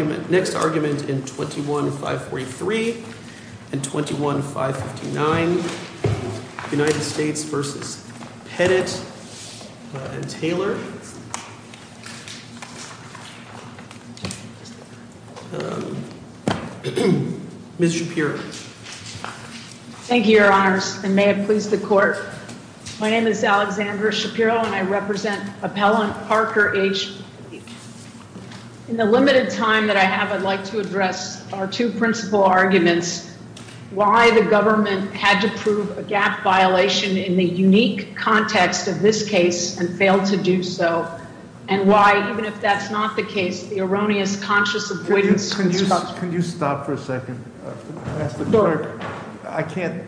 and Taylor. Ms. Shapiro. Thank you, Your Honors, and may it please the Court. My name is Alexandra Shapiro, and I'd like to address our two principal arguments, why the government had to prove a gap violation in the unique context of this case and failed to do so, and why, even if that's not the case, the erroneous conscious avoidance of this construction. Can you stop for a second? I can't.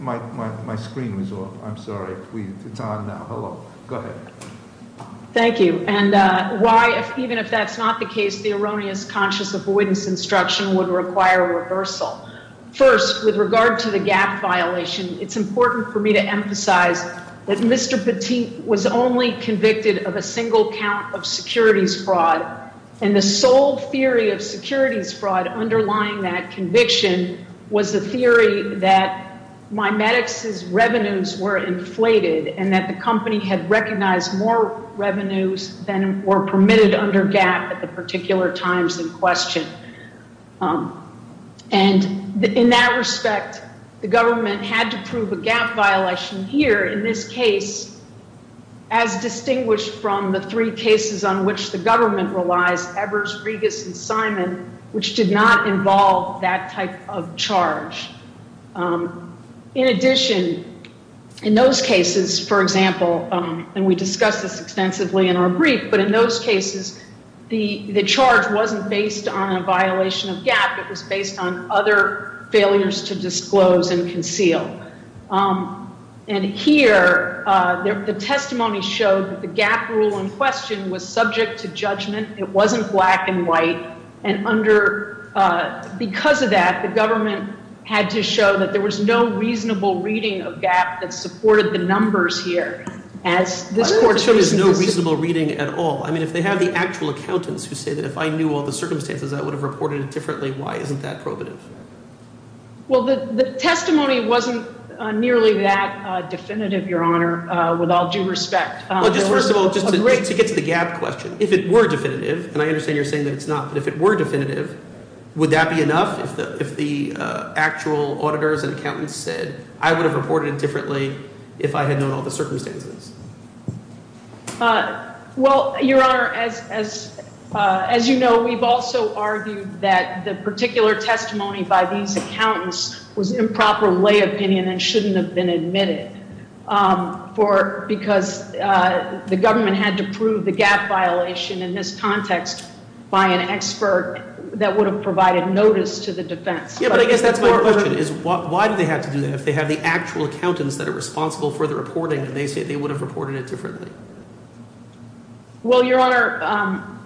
My screen was off. I'm sorry. It's on now. Hello. Go ahead. Thank you. And why, even if that's not the case, the erroneous conscious avoidance instruction would require reversal. First, with regard to the gap violation, it's important for me to emphasize that Mr. Petit was only convicted of a single count of securities fraud, and the sole theory of securities fraud underlying that conviction was the theory that MiMedx's revenues were inflated and that the company had recognized more revenues than were permitted under gap at the particular times in question. And in that respect, the government had to prove a gap violation here in this case, as distinguished from the three cases on which the government relies, Evers, Regas, and Simon, which did not involve that type of charge. In addition, in those cases, for example, and we discussed this extensively in our brief, but in those cases, the charge wasn't based on a violation of gap. It was based on other failures to disclose and conceal. And here, the testimony showed that the gap rule in question was subject to judgment. It wasn't black and white. And because of that, the government had to show that there was no reasonable reading of gap that supported the numbers here. There is no reasonable reading at all. I mean, if they have the actual accountants who say that if I knew all the circumstances, I would have reported it differently. Why isn't that prohibitive? Well, the testimony wasn't nearly that definitive, Your Honor, with all due respect. Well, just first of all, just to get to the gap question, if it were definitive, and I understand you're saying that it's not, but if it were definitive, would that be enough if the actual auditors and accountants said, I would have reported it differently if I had known all the circumstances? Well, Your Honor, as you know, we've also argued that the particular testimony by these accountants was improper lay opinion and shouldn't have been admitted because the government had to prove the gap violation in this context by an expert that would have provided notice to the defense. Yeah, but I guess that's my question is why do they have to do that if they have the actual accountants that are responsible for the reporting and they say they would have reported it differently? Well, Your Honor,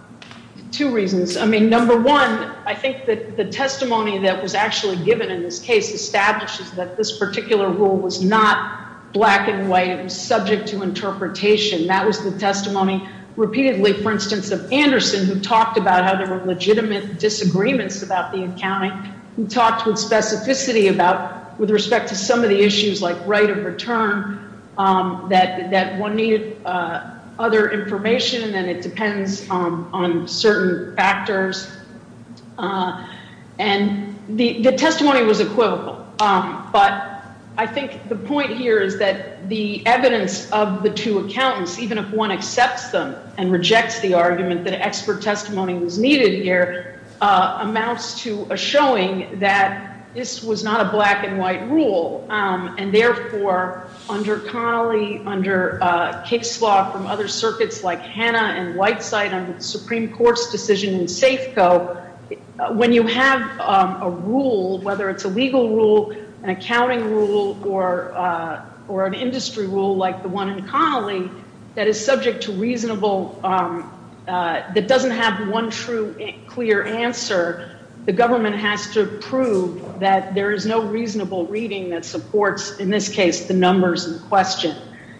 two reasons. I mean, number one, I think that the testimony that was actually given in this case establishes that this particular rule was not black and white. It was subject to interpretation. That was the testimony repeatedly, for instance, of Anderson, who talked about how there were legitimate disagreements about the accounting, who talked with specificity about with respect to some of the issues like right of return, that one needed other information, and then it depends on certain factors. And the testimony was equivocal. But I think the point here is that the evidence of the two accountants, even if one accepts them and rejects the argument that expert testimony was needed here, amounts to a showing that this was not a black and white rule. And therefore, under Connolly, under Kickslaw, from other circuits like Hanna and Whiteside, under the Supreme Court's decision in Safeco, when you have a rule, whether it's a legal rule, an accounting rule, or an industry rule like the one in Connolly, that is subject to reasonable, that doesn't have one true clear answer, the government has to prove that there is no reasonable reading that supports, in this case, the numbers in question.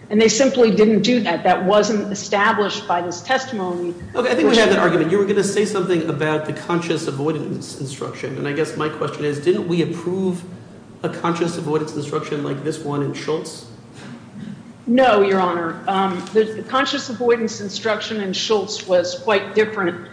And they simply didn't do that. That wasn't established by this testimony. Okay. I think we have that argument. You were going to say something about the conscious avoidance instruction, and I guess my question is, didn't we approve a conscious avoidance instruction like this one in Schultz? No, Your Honor. The conscious avoidance instruction in Schultz was quite different.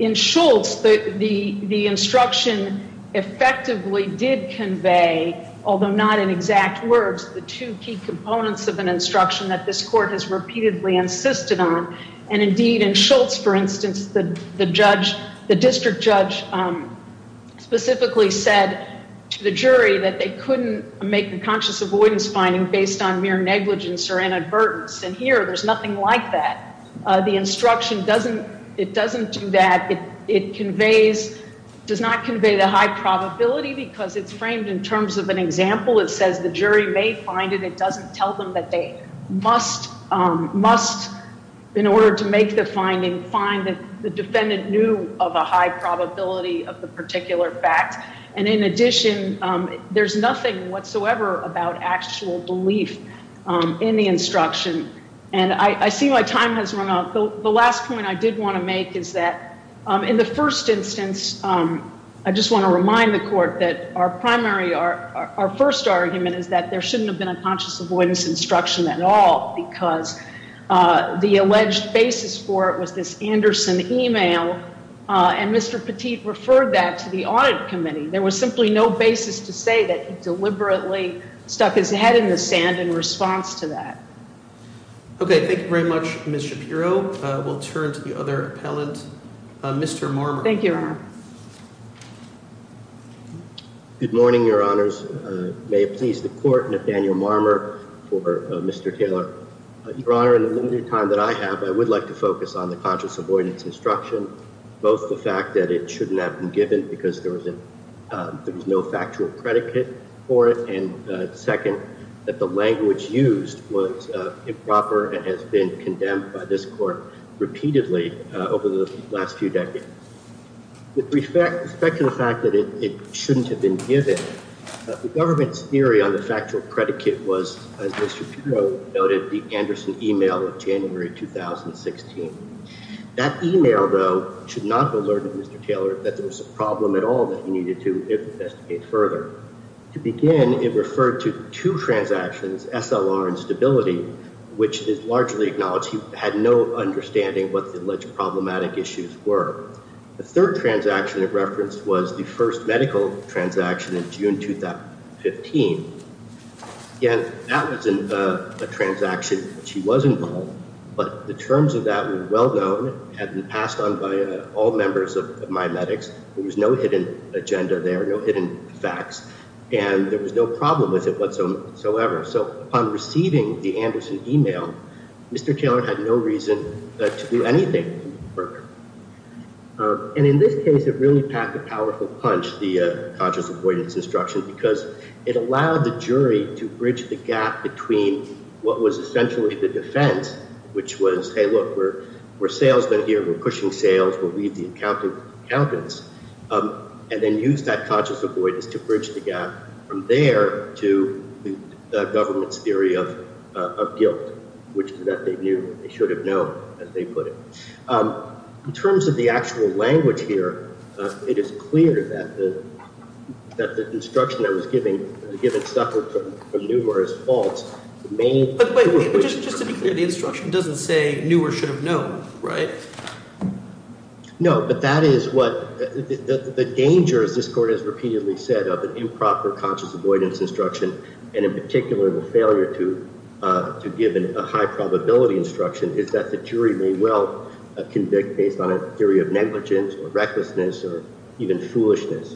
In Schultz, the instruction effectively did convey, although not in exact words, the two key components of an instruction that this court has repeatedly insisted on. And indeed, in Schultz, for instance, the district judge specifically said to the jury that they couldn't make the conscious avoidance finding based on mere negligence or inadvertence. And here, there's nothing like that. The instruction doesn't do that. It does not convey the high probability because it's framed in terms of an example. It says the jury may find it. It doesn't tell them that they must, in order to make the finding, find the defendant knew of a high probability of the particular fact. And in addition, there's nothing whatsoever about actual belief in the instruction. And I see my time has run out. The last point I did want to make is that in the first instance, I just want to remind the court that our primary, our first argument is that there shouldn't have been a conscious avoidance instruction at all because the alleged basis for it was this Anderson email. And Mr. Petit referred that to the audit committee. There was simply no basis to say that he deliberately stuck his head in the sand in response to that. Okay, thank you very much, Ms. Shapiro. We'll turn to the other appellant, Mr. Marmer. Good morning, Your Honors. May it please the court, Nathaniel Marmer for Mr. Taylor. Your Honor, in the limited time that I have, I would like to focus on the conscious avoidance instruction, both the fact that it shouldn't have been given because there was no factual predicate for it, and second, that the language used was improper and has been condemned by this court repeatedly over the last few decades. With respect to the fact that it shouldn't have been given, the government's theory on the factual predicate was, as Ms. Shapiro noted, the Anderson email of January 2016. That email, though, should not have alerted Mr. Taylor that there was a problem at all that he needed to investigate further. To begin, it referred to two transactions, SLR and stability, which is largely acknowledged. He had no understanding what the alleged problematic issues were. The third transaction it referenced was the first medical transaction in June 2015. Again, that was a transaction in which he was involved, but the terms of that were well known. It had been passed on by all members of MiMedx. There was no hidden agenda there, no hidden facts, and there was no problem with it whatsoever. Upon receiving the Anderson email, Mr. Taylor had no reason to do anything further. In this case, it really packed a powerful punch, the conscious avoidance instruction, because it allowed the jury to bridge the gap between what was essentially the defense, which was, hey, look, we're salesmen here, we're pushing sales, we'll leave the accountants, and then use that conscious avoidance to bridge the gap from there to the government's theory of guilt, which they knew they should have known, as they put it. In terms of the actual language here, it is clear that the instruction I was given suffered from numerous faults. But just to be clear, the instruction doesn't say knew or should have known, right? No, but that is what – the danger, as this Court has repeatedly said, of an improper conscious avoidance instruction, and in particular the failure to give a high probability instruction, is that the jury may well convict based on a theory of negligence or recklessness or even foolishness.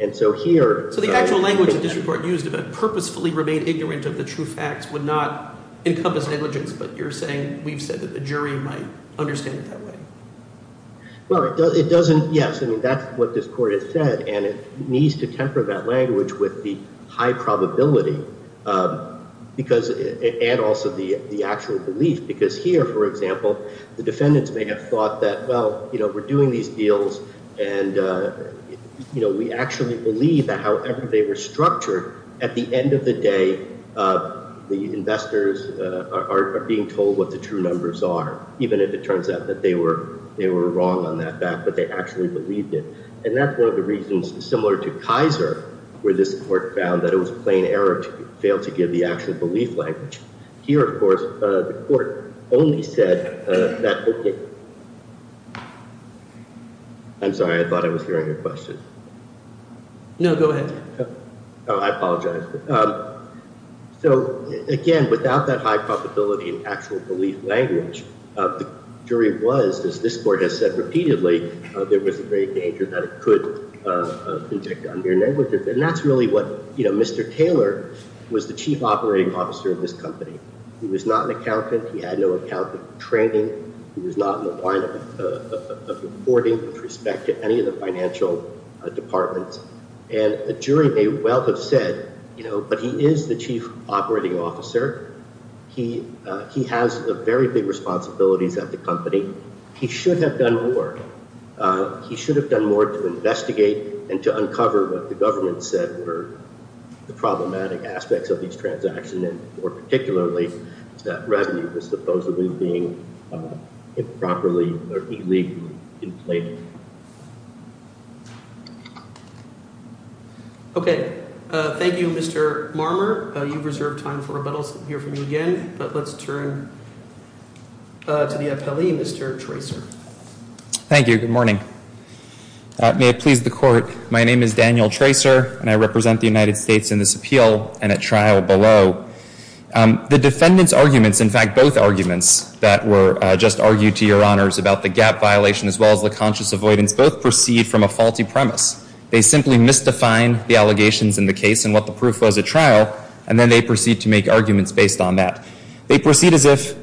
And so here – So the actual language that this Court used about purposefully remain ignorant of the true facts would not encompass negligence, but you're saying – we've said that the jury might understand it that way. Well, it doesn't – yes, I mean, that's what this Court has said, and it needs to temper that language with the high probability, because – and also the actual belief. Because here, for example, the defendants may have thought that, well, we're doing these deals, and we actually believe that however they were structured, at the end of the day, the investors are being told what the true numbers are, even if it turns out that they were wrong on that fact, but they actually believed it. And that's one of the reasons, similar to Kaiser, where this Court found that it was a plain error to fail to give the actual belief language. Here, of course, the Court only said that – I'm sorry, I thought I was hearing your question. No, go ahead. Oh, I apologize. So, again, without that high probability and actual belief language, the jury was, as this Court has said repeatedly, there was a great danger that it could inject undue negligence. And that's really what – you know, Mr. Taylor was the chief operating officer of this company. He was not an accountant. He had no accountant training. He was not in the line of reporting with respect to any of the financial departments. And the jury may well have said, you know, but he is the chief operating officer. He has very big responsibilities at the company. He should have done more. He should have done more to investigate and to uncover what the government said were the problematic aspects of these transactions, and more particularly, that revenue was supposedly being improperly or illegally inflated. Okay. Thank you, Mr. Marmer. You've reserved time for rebuttals to hear from you again, but let's turn to the appellee, Mr. Tracer. Thank you. Good morning. May it please the Court, my name is Daniel Tracer, and I represent the United States in this appeal and at trial below. The defendant's arguments, in fact, both arguments that were just argued to your honors about the gap violation as well as the conscious avoidance, both proceed from a faulty premise. They simply misdefine the allegations in the case and what the proof was at trial, and then they proceed to make arguments based on that. They proceed as if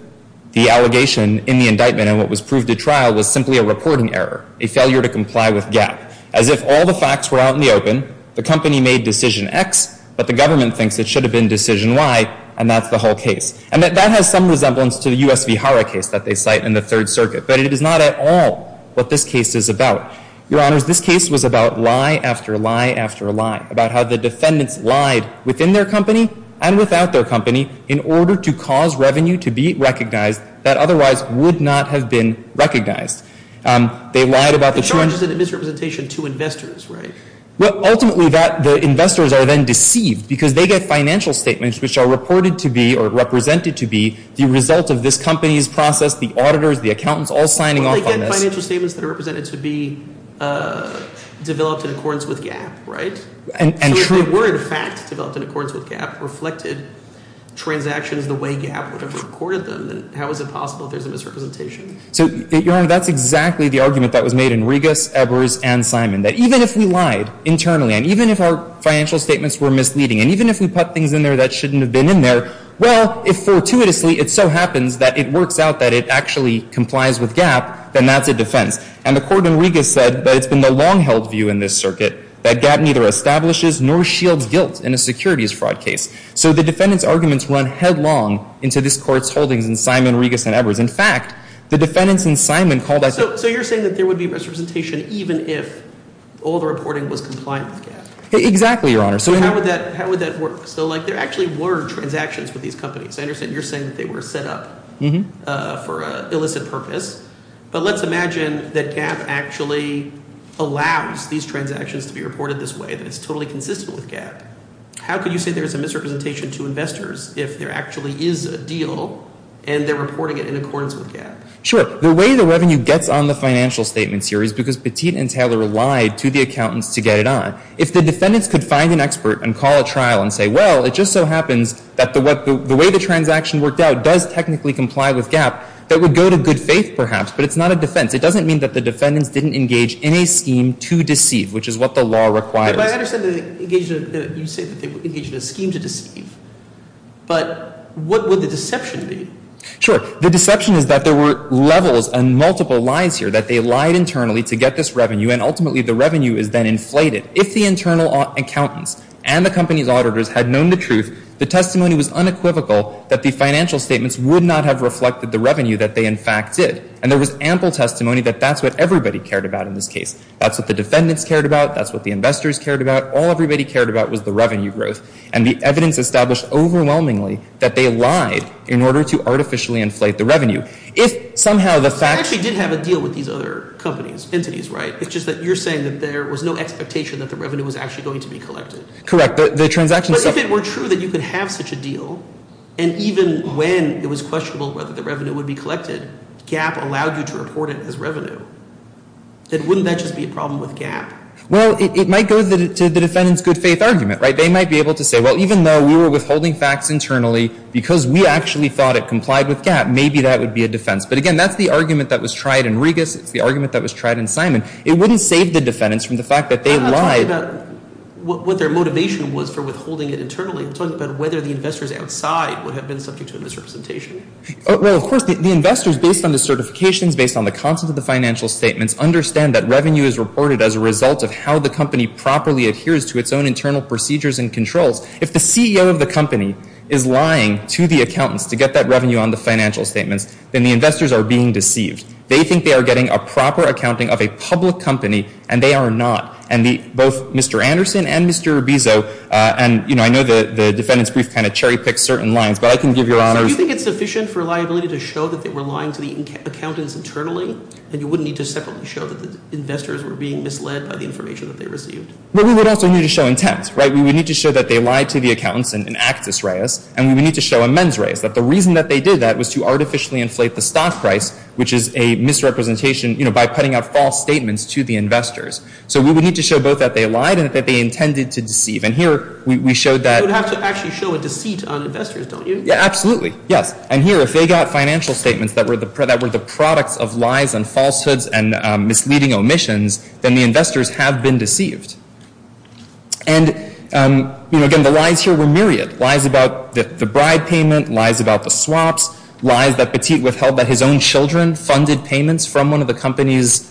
the allegation in the indictment and what was proved at trial was simply a reporting error, a failure to comply with gap. As if all the facts were out in the open, the company made decision X, but the government thinks it should have been decision Y, and that's the whole case. And that has some resemblance to the U.S. v. Hara case that they cite in the Third Circuit, but it is not at all what this case is about. Your honors, this case was about lie after lie after lie, about how the defendants lied within their company and without their company in order to cause revenue to be recognized that otherwise would not have been recognized. They lied about the true... The challenge is a misrepresentation to investors, right? Well, ultimately that, the investors are then deceived because they get financial statements which are reported to be or represented to be the result of this company's process, the auditors, the accountants all signing off on this. So they get financial statements that are represented to be developed in accordance with gap, right? So if they were in fact developed in accordance with gap, reflected transactions the way gap would have recorded them, then how is it possible there's a misrepresentation? So, your honor, that's exactly the argument that was made in Regas, Ebers, and Simon, that even if we lied internally, and even if our financial statements were misleading, and even if we put things in there that shouldn't have been in there, well, if fortuitously it so happens that it works out that it actually complies with gap, then that's a defense. And the court in Regas said that it's been the long-held view in this circuit that gap neither establishes nor shields guilt in a securities fraud case. So the defendants' arguments run headlong into this court's holdings in Simon, Regas, and Ebers. In fact, the defendants in Simon called that... So you're saying that there would be misrepresentation even if all the reporting was compliant with gap? Exactly, your honor. So how would that work? So, like, there actually were transactions with these companies. I understand you're saying that they were set up for an illicit purpose. But let's imagine that gap actually allows these transactions to be reported this way, that it's totally consistent with gap. How could you say there's a misrepresentation to investors if there actually is a deal and they're reporting it in accordance with gap? Sure. The way the revenue gets on the financial statements here is because Petit and Taylor lied to the accountants to get it on. If the defendants could find an expert and call a trial and say, well, it just so happens that the way the transaction worked out does technically comply with gap, that would go to good faith, perhaps, but it's not a defense. It doesn't mean that the defendants didn't engage in a scheme to deceive, which is what the law requires. But I understand that they engaged in a scheme to deceive. But what would the deception be? Sure. The deception is that there were levels and multiple lies here, that they lied internally to get this revenue, and ultimately the revenue is then inflated. If the internal accountants and the company's auditors had known the truth, the testimony was unequivocal that the financial statements would not have reflected the revenue that they, in fact, did. And there was ample testimony that that's what everybody cared about in this case. That's what the defendants cared about. That's what the investors cared about. All everybody cared about was the revenue growth. And the evidence established overwhelmingly that they lied in order to artificially inflate the revenue. If somehow the fact – So they actually did have a deal with these other companies, entities, right? It's just that you're saying that there was no expectation that the revenue was actually going to be collected. Correct. The transaction – But if it were true that you could have such a deal, and even when it was questionable whether the revenue would be collected, GAP allowed you to report it as revenue, then wouldn't that just be a problem with GAP? Well, it might go to the defendants' good faith argument, right? They might be able to say, well, even though we were withholding facts internally, because we actually thought it complied with GAP, maybe that would be a defense. But again, that's the argument that was tried in Regas. It's the argument that was tried in Simon. It wouldn't save the defendants from the fact that they lied. I'm not talking about what their motivation was for withholding it internally. I'm talking about whether the investors outside would have been subject to a misrepresentation. Well, of course, the investors, based on the certifications, based on the content of the financial statements, understand that revenue is reported as a result of how the company properly adheres to its own internal procedures and controls. If the CEO of the company is lying to the accountants to get that revenue on the financial statements, then the investors are being deceived. They think they are getting a proper accounting of a public company, and they are not. And both Mr. Anderson and Mr. Urbizo, and, you know, I know the defendant's brief kind of cherry-picks certain lines, but I can give your honors. So you think it's sufficient for liability to show that they were lying to the accountants internally, and you wouldn't need to separately show that the investors were being misled by the information that they received? Well, we would also need to show intent, right? We would need to show that they lied to the accountants in Actus Reis, and we would need to show in Mens Reis that the reason that they did that was to artificially inflate the stock price, which is a misrepresentation, you know, by putting out false statements to the investors. So we would need to show both that they lied and that they intended to deceive. And here we showed that… You would have to actually show a deceit on investors, don't you? Yeah, absolutely, yes. And here, if they got financial statements that were the products of lies and falsehoods and misleading omissions, then the investors have been deceived. And, you know, again, the lies here were myriad. Lies about the bride payment, lies about the swaps, lies that Petit withheld that his own children funded payments from one of the company's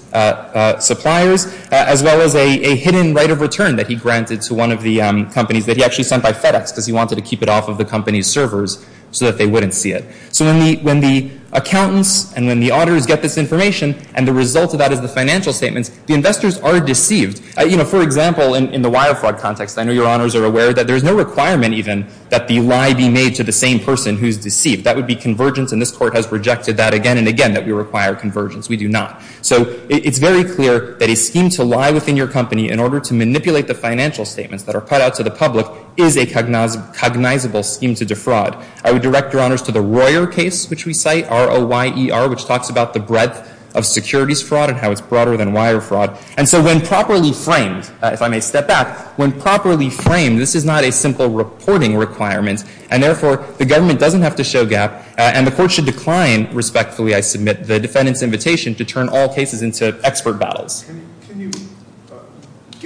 suppliers, as well as a hidden right of return that he granted to one of the companies that he actually sent by FedEx because he wanted to keep it off of the company's servers so that they wouldn't see it. So when the accountants and when the auditors get this information, and the result of that is the financial statements, the investors are deceived. You know, for example, in the wire fraud context, I know Your Honors are aware that there's no requirement even that the lie be made to the same person who's deceived. That would be convergence, and this Court has rejected that again and again, that we require convergence. We do not. So it's very clear that a scheme to lie within your company in order to manipulate the financial statements that are put out to the public is a cognizable scheme to defraud. I would direct Your Honors to the Royer case, which we cite, R-O-Y-E-R, which talks about the breadth of securities fraud and how it's broader than wire fraud. And so when properly framed, if I may step back, when properly framed, this is not a simple reporting requirement, and therefore, the government doesn't have to show gap, and the Court should decline, respectfully, I submit, the defendant's invitation to turn all cases into expert battles. Can you –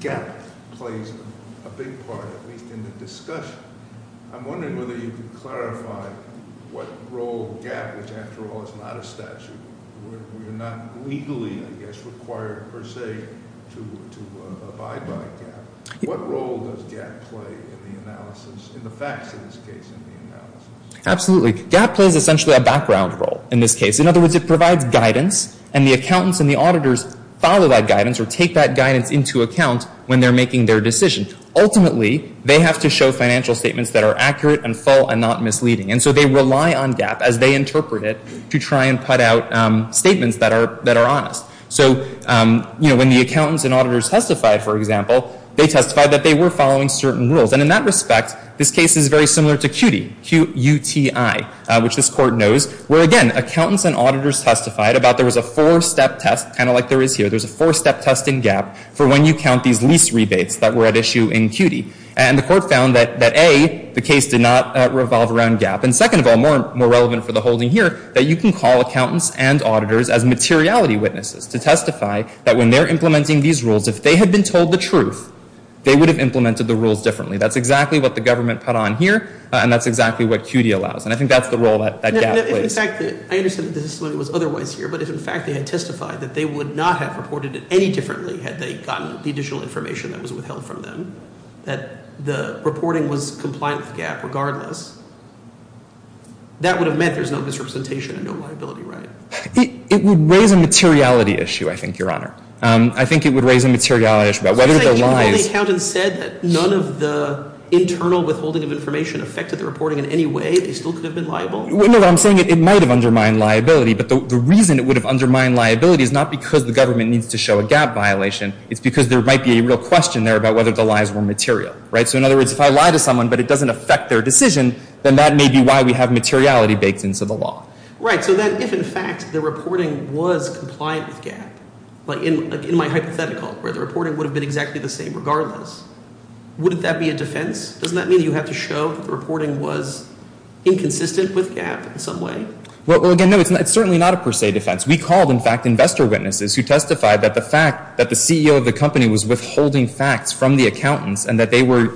gap plays a big part, at least in the discussion. I'm wondering whether you could clarify what role gap, which, after all, is not a statute. We're not legally, I guess, required per se to abide by gap. What role does gap play in the analysis, in the facts in this case, in the analysis? Absolutely. Gap plays essentially a background role in this case. In other words, it provides guidance, and the accountants and the auditors follow that guidance or take that guidance into account when they're making their decision. Ultimately, they have to show financial statements that are accurate and full and not misleading. And so they rely on gap, as they interpret it, to try and put out statements that are honest. So, you know, when the accountants and auditors testified, for example, they testified that they were following certain rules. And in that respect, this case is very similar to CUTI, Q-U-T-I, which this Court knows, where, again, accountants and auditors testified about there was a four-step test, kind of like there is here. There's a four-step test in gap for when you count these lease rebates that were at issue in CUTI. And the Court found that, A, the case did not revolve around gap. And second of all, more relevant for the holding here, that you can call accountants and auditors as materiality witnesses to testify that when they're implementing these rules, if they had been told the truth, they would have implemented the rules differently. That's exactly what the government put on here, and that's exactly what CUTI allows. And I think that's the role that gap plays. I understand that the testimony was otherwise here, but if, in fact, they had testified that they would not have reported it any differently had they gotten the additional information that was withheld from them, that the reporting was compliant with gap regardless, that would have meant there's no misrepresentation and no liability, right? It would raise a materiality issue, I think, Your Honor. I think it would raise a materiality issue about whether the lies— You said you called the accountants said that none of the internal withholding of information affected the reporting in any way. They still could have been liable? No, but I'm saying it might have undermined liability. But the reason it would have undermined liability is not because the government needs to show a gap violation. It's because there might be a real question there about whether the lies were material, right? So, in other words, if I lie to someone but it doesn't affect their decision, then that may be why we have materiality baked into the law. Right. So then if, in fact, the reporting was compliant with gap, like in my hypothetical where the reporting would have been exactly the same regardless, wouldn't that be a defense? Doesn't that mean you have to show that the reporting was inconsistent with gap in some way? Well, again, no. It's certainly not a per se defense. We called, in fact, investor witnesses who testified that the fact that the CEO of the company was withholding facts from the accountants and that they were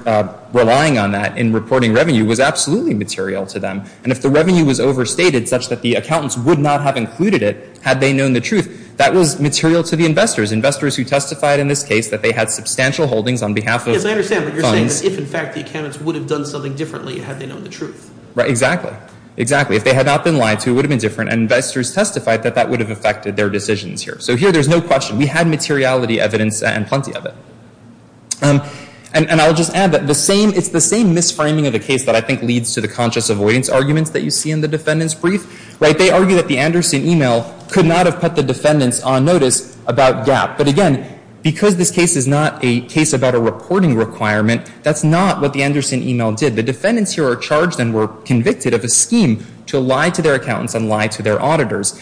relying on that in reporting revenue was absolutely material to them. And if the revenue was overstated such that the accountants would not have included it had they known the truth, that was material to the investors, investors who testified in this case that they had substantial holdings on behalf of funds. Yes, I understand. But you're saying that if, in fact, the accountants would have done something differently had they known the truth. Right. Exactly. Exactly. If they had not been lied to, it would have been different. And investors testified that that would have affected their decisions here. So here there's no question. We had materiality evidence and plenty of it. And I'll just add that the same, it's the same misframing of the case that I think leads to the conscious avoidance arguments that you see in the defendant's brief. Right. They argue that the Anderson email could not have put the defendants on notice about gap. But again, because this case is not a case about a reporting requirement, that's not what the Anderson email did. The defendants here are charged and were convicted of a scheme to lie to their accountants and lie to their auditors.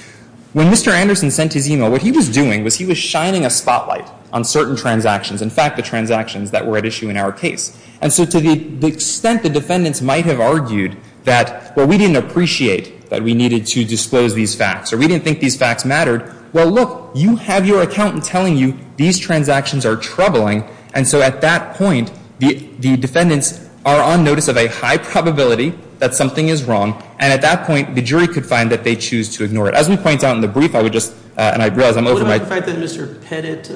When Mr. Anderson sent his email, what he was doing was he was shining a spotlight on certain transactions, in fact, the transactions that were at issue in our case. And so to the extent the defendants might have argued that, well, we didn't appreciate that we needed to disclose these facts or we didn't think these facts mattered, well, look, you have your accountant telling you these transactions are troubling. And so at that point, the defendants are on notice of a high probability that something is wrong. And at that point, the jury could find that they choose to ignore it. As we point out in the brief, I would just – and I realize I'm over my – What about the fact that Mr. Pettit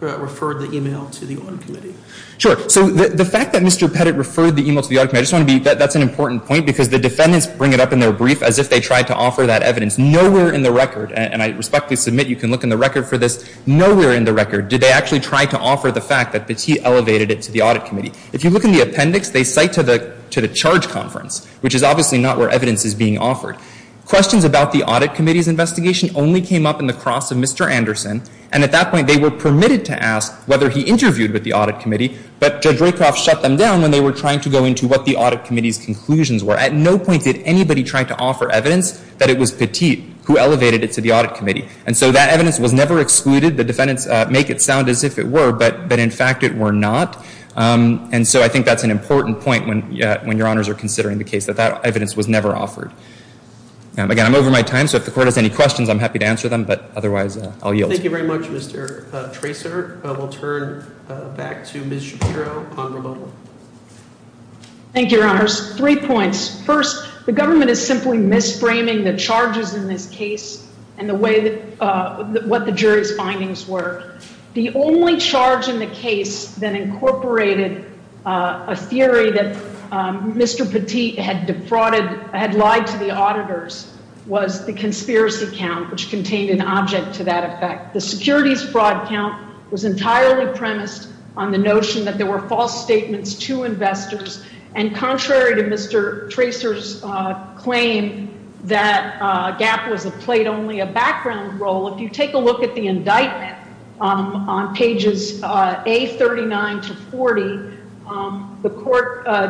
referred the email to the Audit Committee? Sure. So the fact that Mr. Pettit referred the email to the Audit Committee, I just want to be – that's an important point because the defendants bring it up in their brief as if they tried to offer that evidence. Nowhere in the record – and I respectfully submit you can look in the record for this – nowhere in the record did they actually try to offer the fact that Petit elevated it to the Audit Committee. If you look in the appendix, they cite to the charge conference, which is obviously not where evidence is being offered. Questions about the Audit Committee's investigation only came up in the cross of Mr. Anderson. And at that point, they were permitted to ask whether he interviewed with the Audit Committee, but Judge Raycroft shut them down when they were trying to go into what the Audit Committee's conclusions were. At no point did anybody try to offer evidence that it was Pettit who elevated it to the Audit Committee. And so that evidence was never excluded. The defendants make it sound as if it were, but in fact it were not. And so I think that's an important point when your honors are considering the case, that that evidence was never offered. Again, I'm over my time, so if the court has any questions, I'm happy to answer them, but otherwise I'll yield. Thank you very much, Mr. Tracer. We'll turn back to Ms. Shapiro on removal. Thank you, your honors. Three points. First, the government is simply misframing the charges in this case and the way – what the jury's findings were. The only charge in the case that incorporated a theory that Mr. Pettit had defrauded – had lied to the auditors was the conspiracy count, which contained an object to that effect. The securities fraud count was entirely premised on the notion that there were false statements to investors, and contrary to Mr. Tracer's claim that Gap played only a background role, if you take a look at the indictment on pages A39 to 40,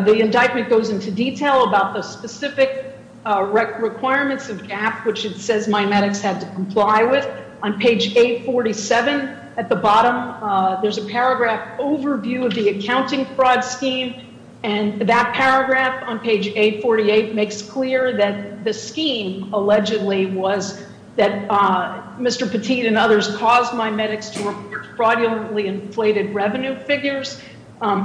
the indictment goes into detail about the specific requirements of Gap, which it says MiMedx had to comply with. On page 847 at the bottom, there's a paragraph overview of the accounting fraud scheme, and that paragraph on page 848 makes clear that the scheme allegedly was that Mr. Pettit and others caused MiMedx to report fraudulently inflated revenue figures.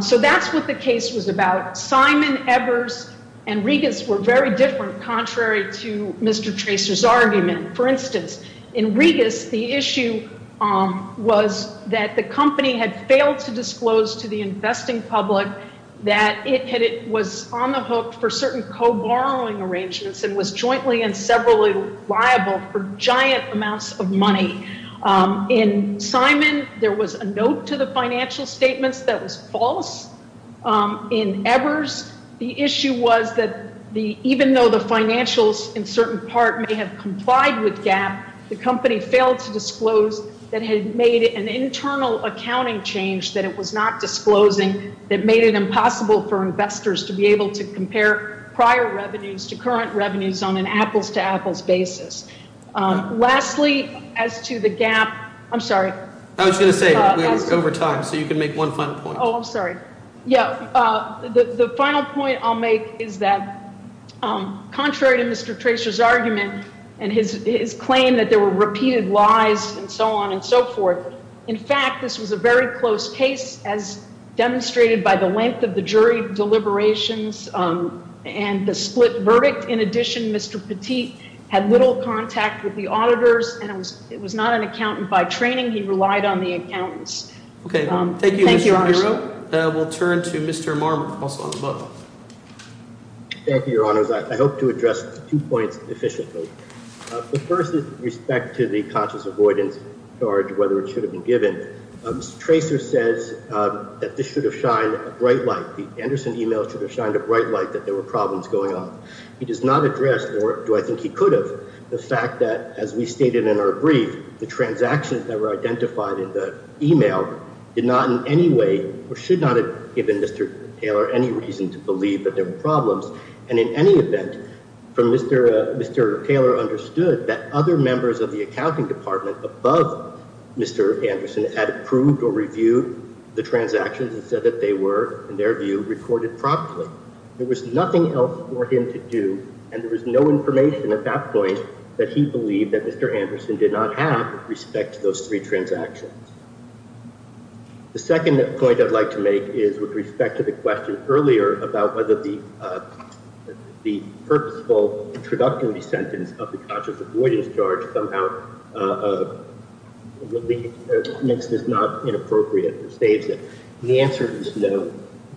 So that's what the case was about. Simon, Evers, and Regas were very different, contrary to Mr. Tracer's argument. For instance, in Regas, the issue was that the company had failed to disclose to the investing public that it was on the hook for certain co-borrowing arrangements and was jointly and severally liable for giant amounts of money. In Simon, there was a note to the financial statements that was false. In Evers, the issue was that even though the financials in certain part may have complied with Gap, the company failed to disclose that it had made an internal accounting change that it was not disclosing that made it impossible for investors to be able to compare prior revenues to current revenues on an apples-to-apples basis. Lastly, as to the Gap, I'm sorry. I was going to say, we're over time, so you can make one final point. Oh, I'm sorry. Yeah, the final point I'll make is that contrary to Mr. Tracer's argument and his claim that there were repeated lies and so on and so forth, in fact, this was a very close case as demonstrated by the length of the jury deliberations and the split verdict. In addition, Mr. Petit had little contact with the auditors, and it was not an accountant by training. He relied on the accountants. Okay. Thank you, Your Honor. We'll turn to Mr. Marmot, also on the book. Thank you, Your Honors. I hope to address two points efficiently. The first is with respect to the conscious avoidance charge, whether it should have been given. Mr. Tracer says that this should have shined a bright light. The Anderson email should have shined a bright light that there were problems going on. He does not address, nor do I think he could have, the fact that, as we stated in our brief, the transactions that were identified in the email did not in any way or should not have given Mr. Taylor any reason to believe that there were problems. And in any event, Mr. Taylor understood that other members of the accounting department above Mr. Anderson had approved or reviewed the transactions and said that they were, in their view, recorded properly. There was nothing else for him to do, and there was no information at that point that he believed that Mr. Anderson did not have with respect to those three transactions. The second point I'd like to make is with respect to the question earlier about whether the purposeful introductory sentence of the conscious avoidance charge somehow makes this not inappropriate or saves it. The answer is no.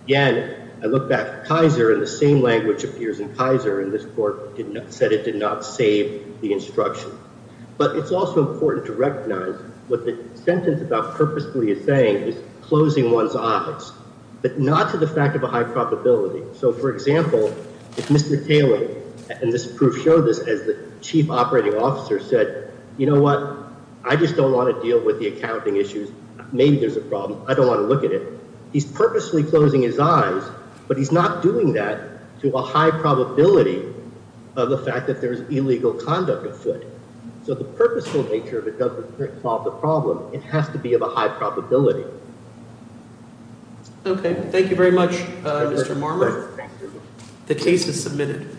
Again, I look back at Kaiser, and the same language appears in Kaiser, and this court said it did not save the instruction. But it's also important to recognize what the sentence about purposefully is saying is closing one's eyes, but not to the fact of a high probability. So, for example, if Mr. Taylor, and this proof showed this as the chief operating officer, said, You know what? I just don't want to deal with the accounting issues. Maybe there's a problem. I don't want to look at it. He's purposely closing his eyes, but he's not doing that to a high probability of the fact that there's illegal conduct afoot. So the purposeful nature of it doesn't solve the problem. It has to be of a high probability. Okay. Thank you very much, Mr. Marmer. The case is submitted.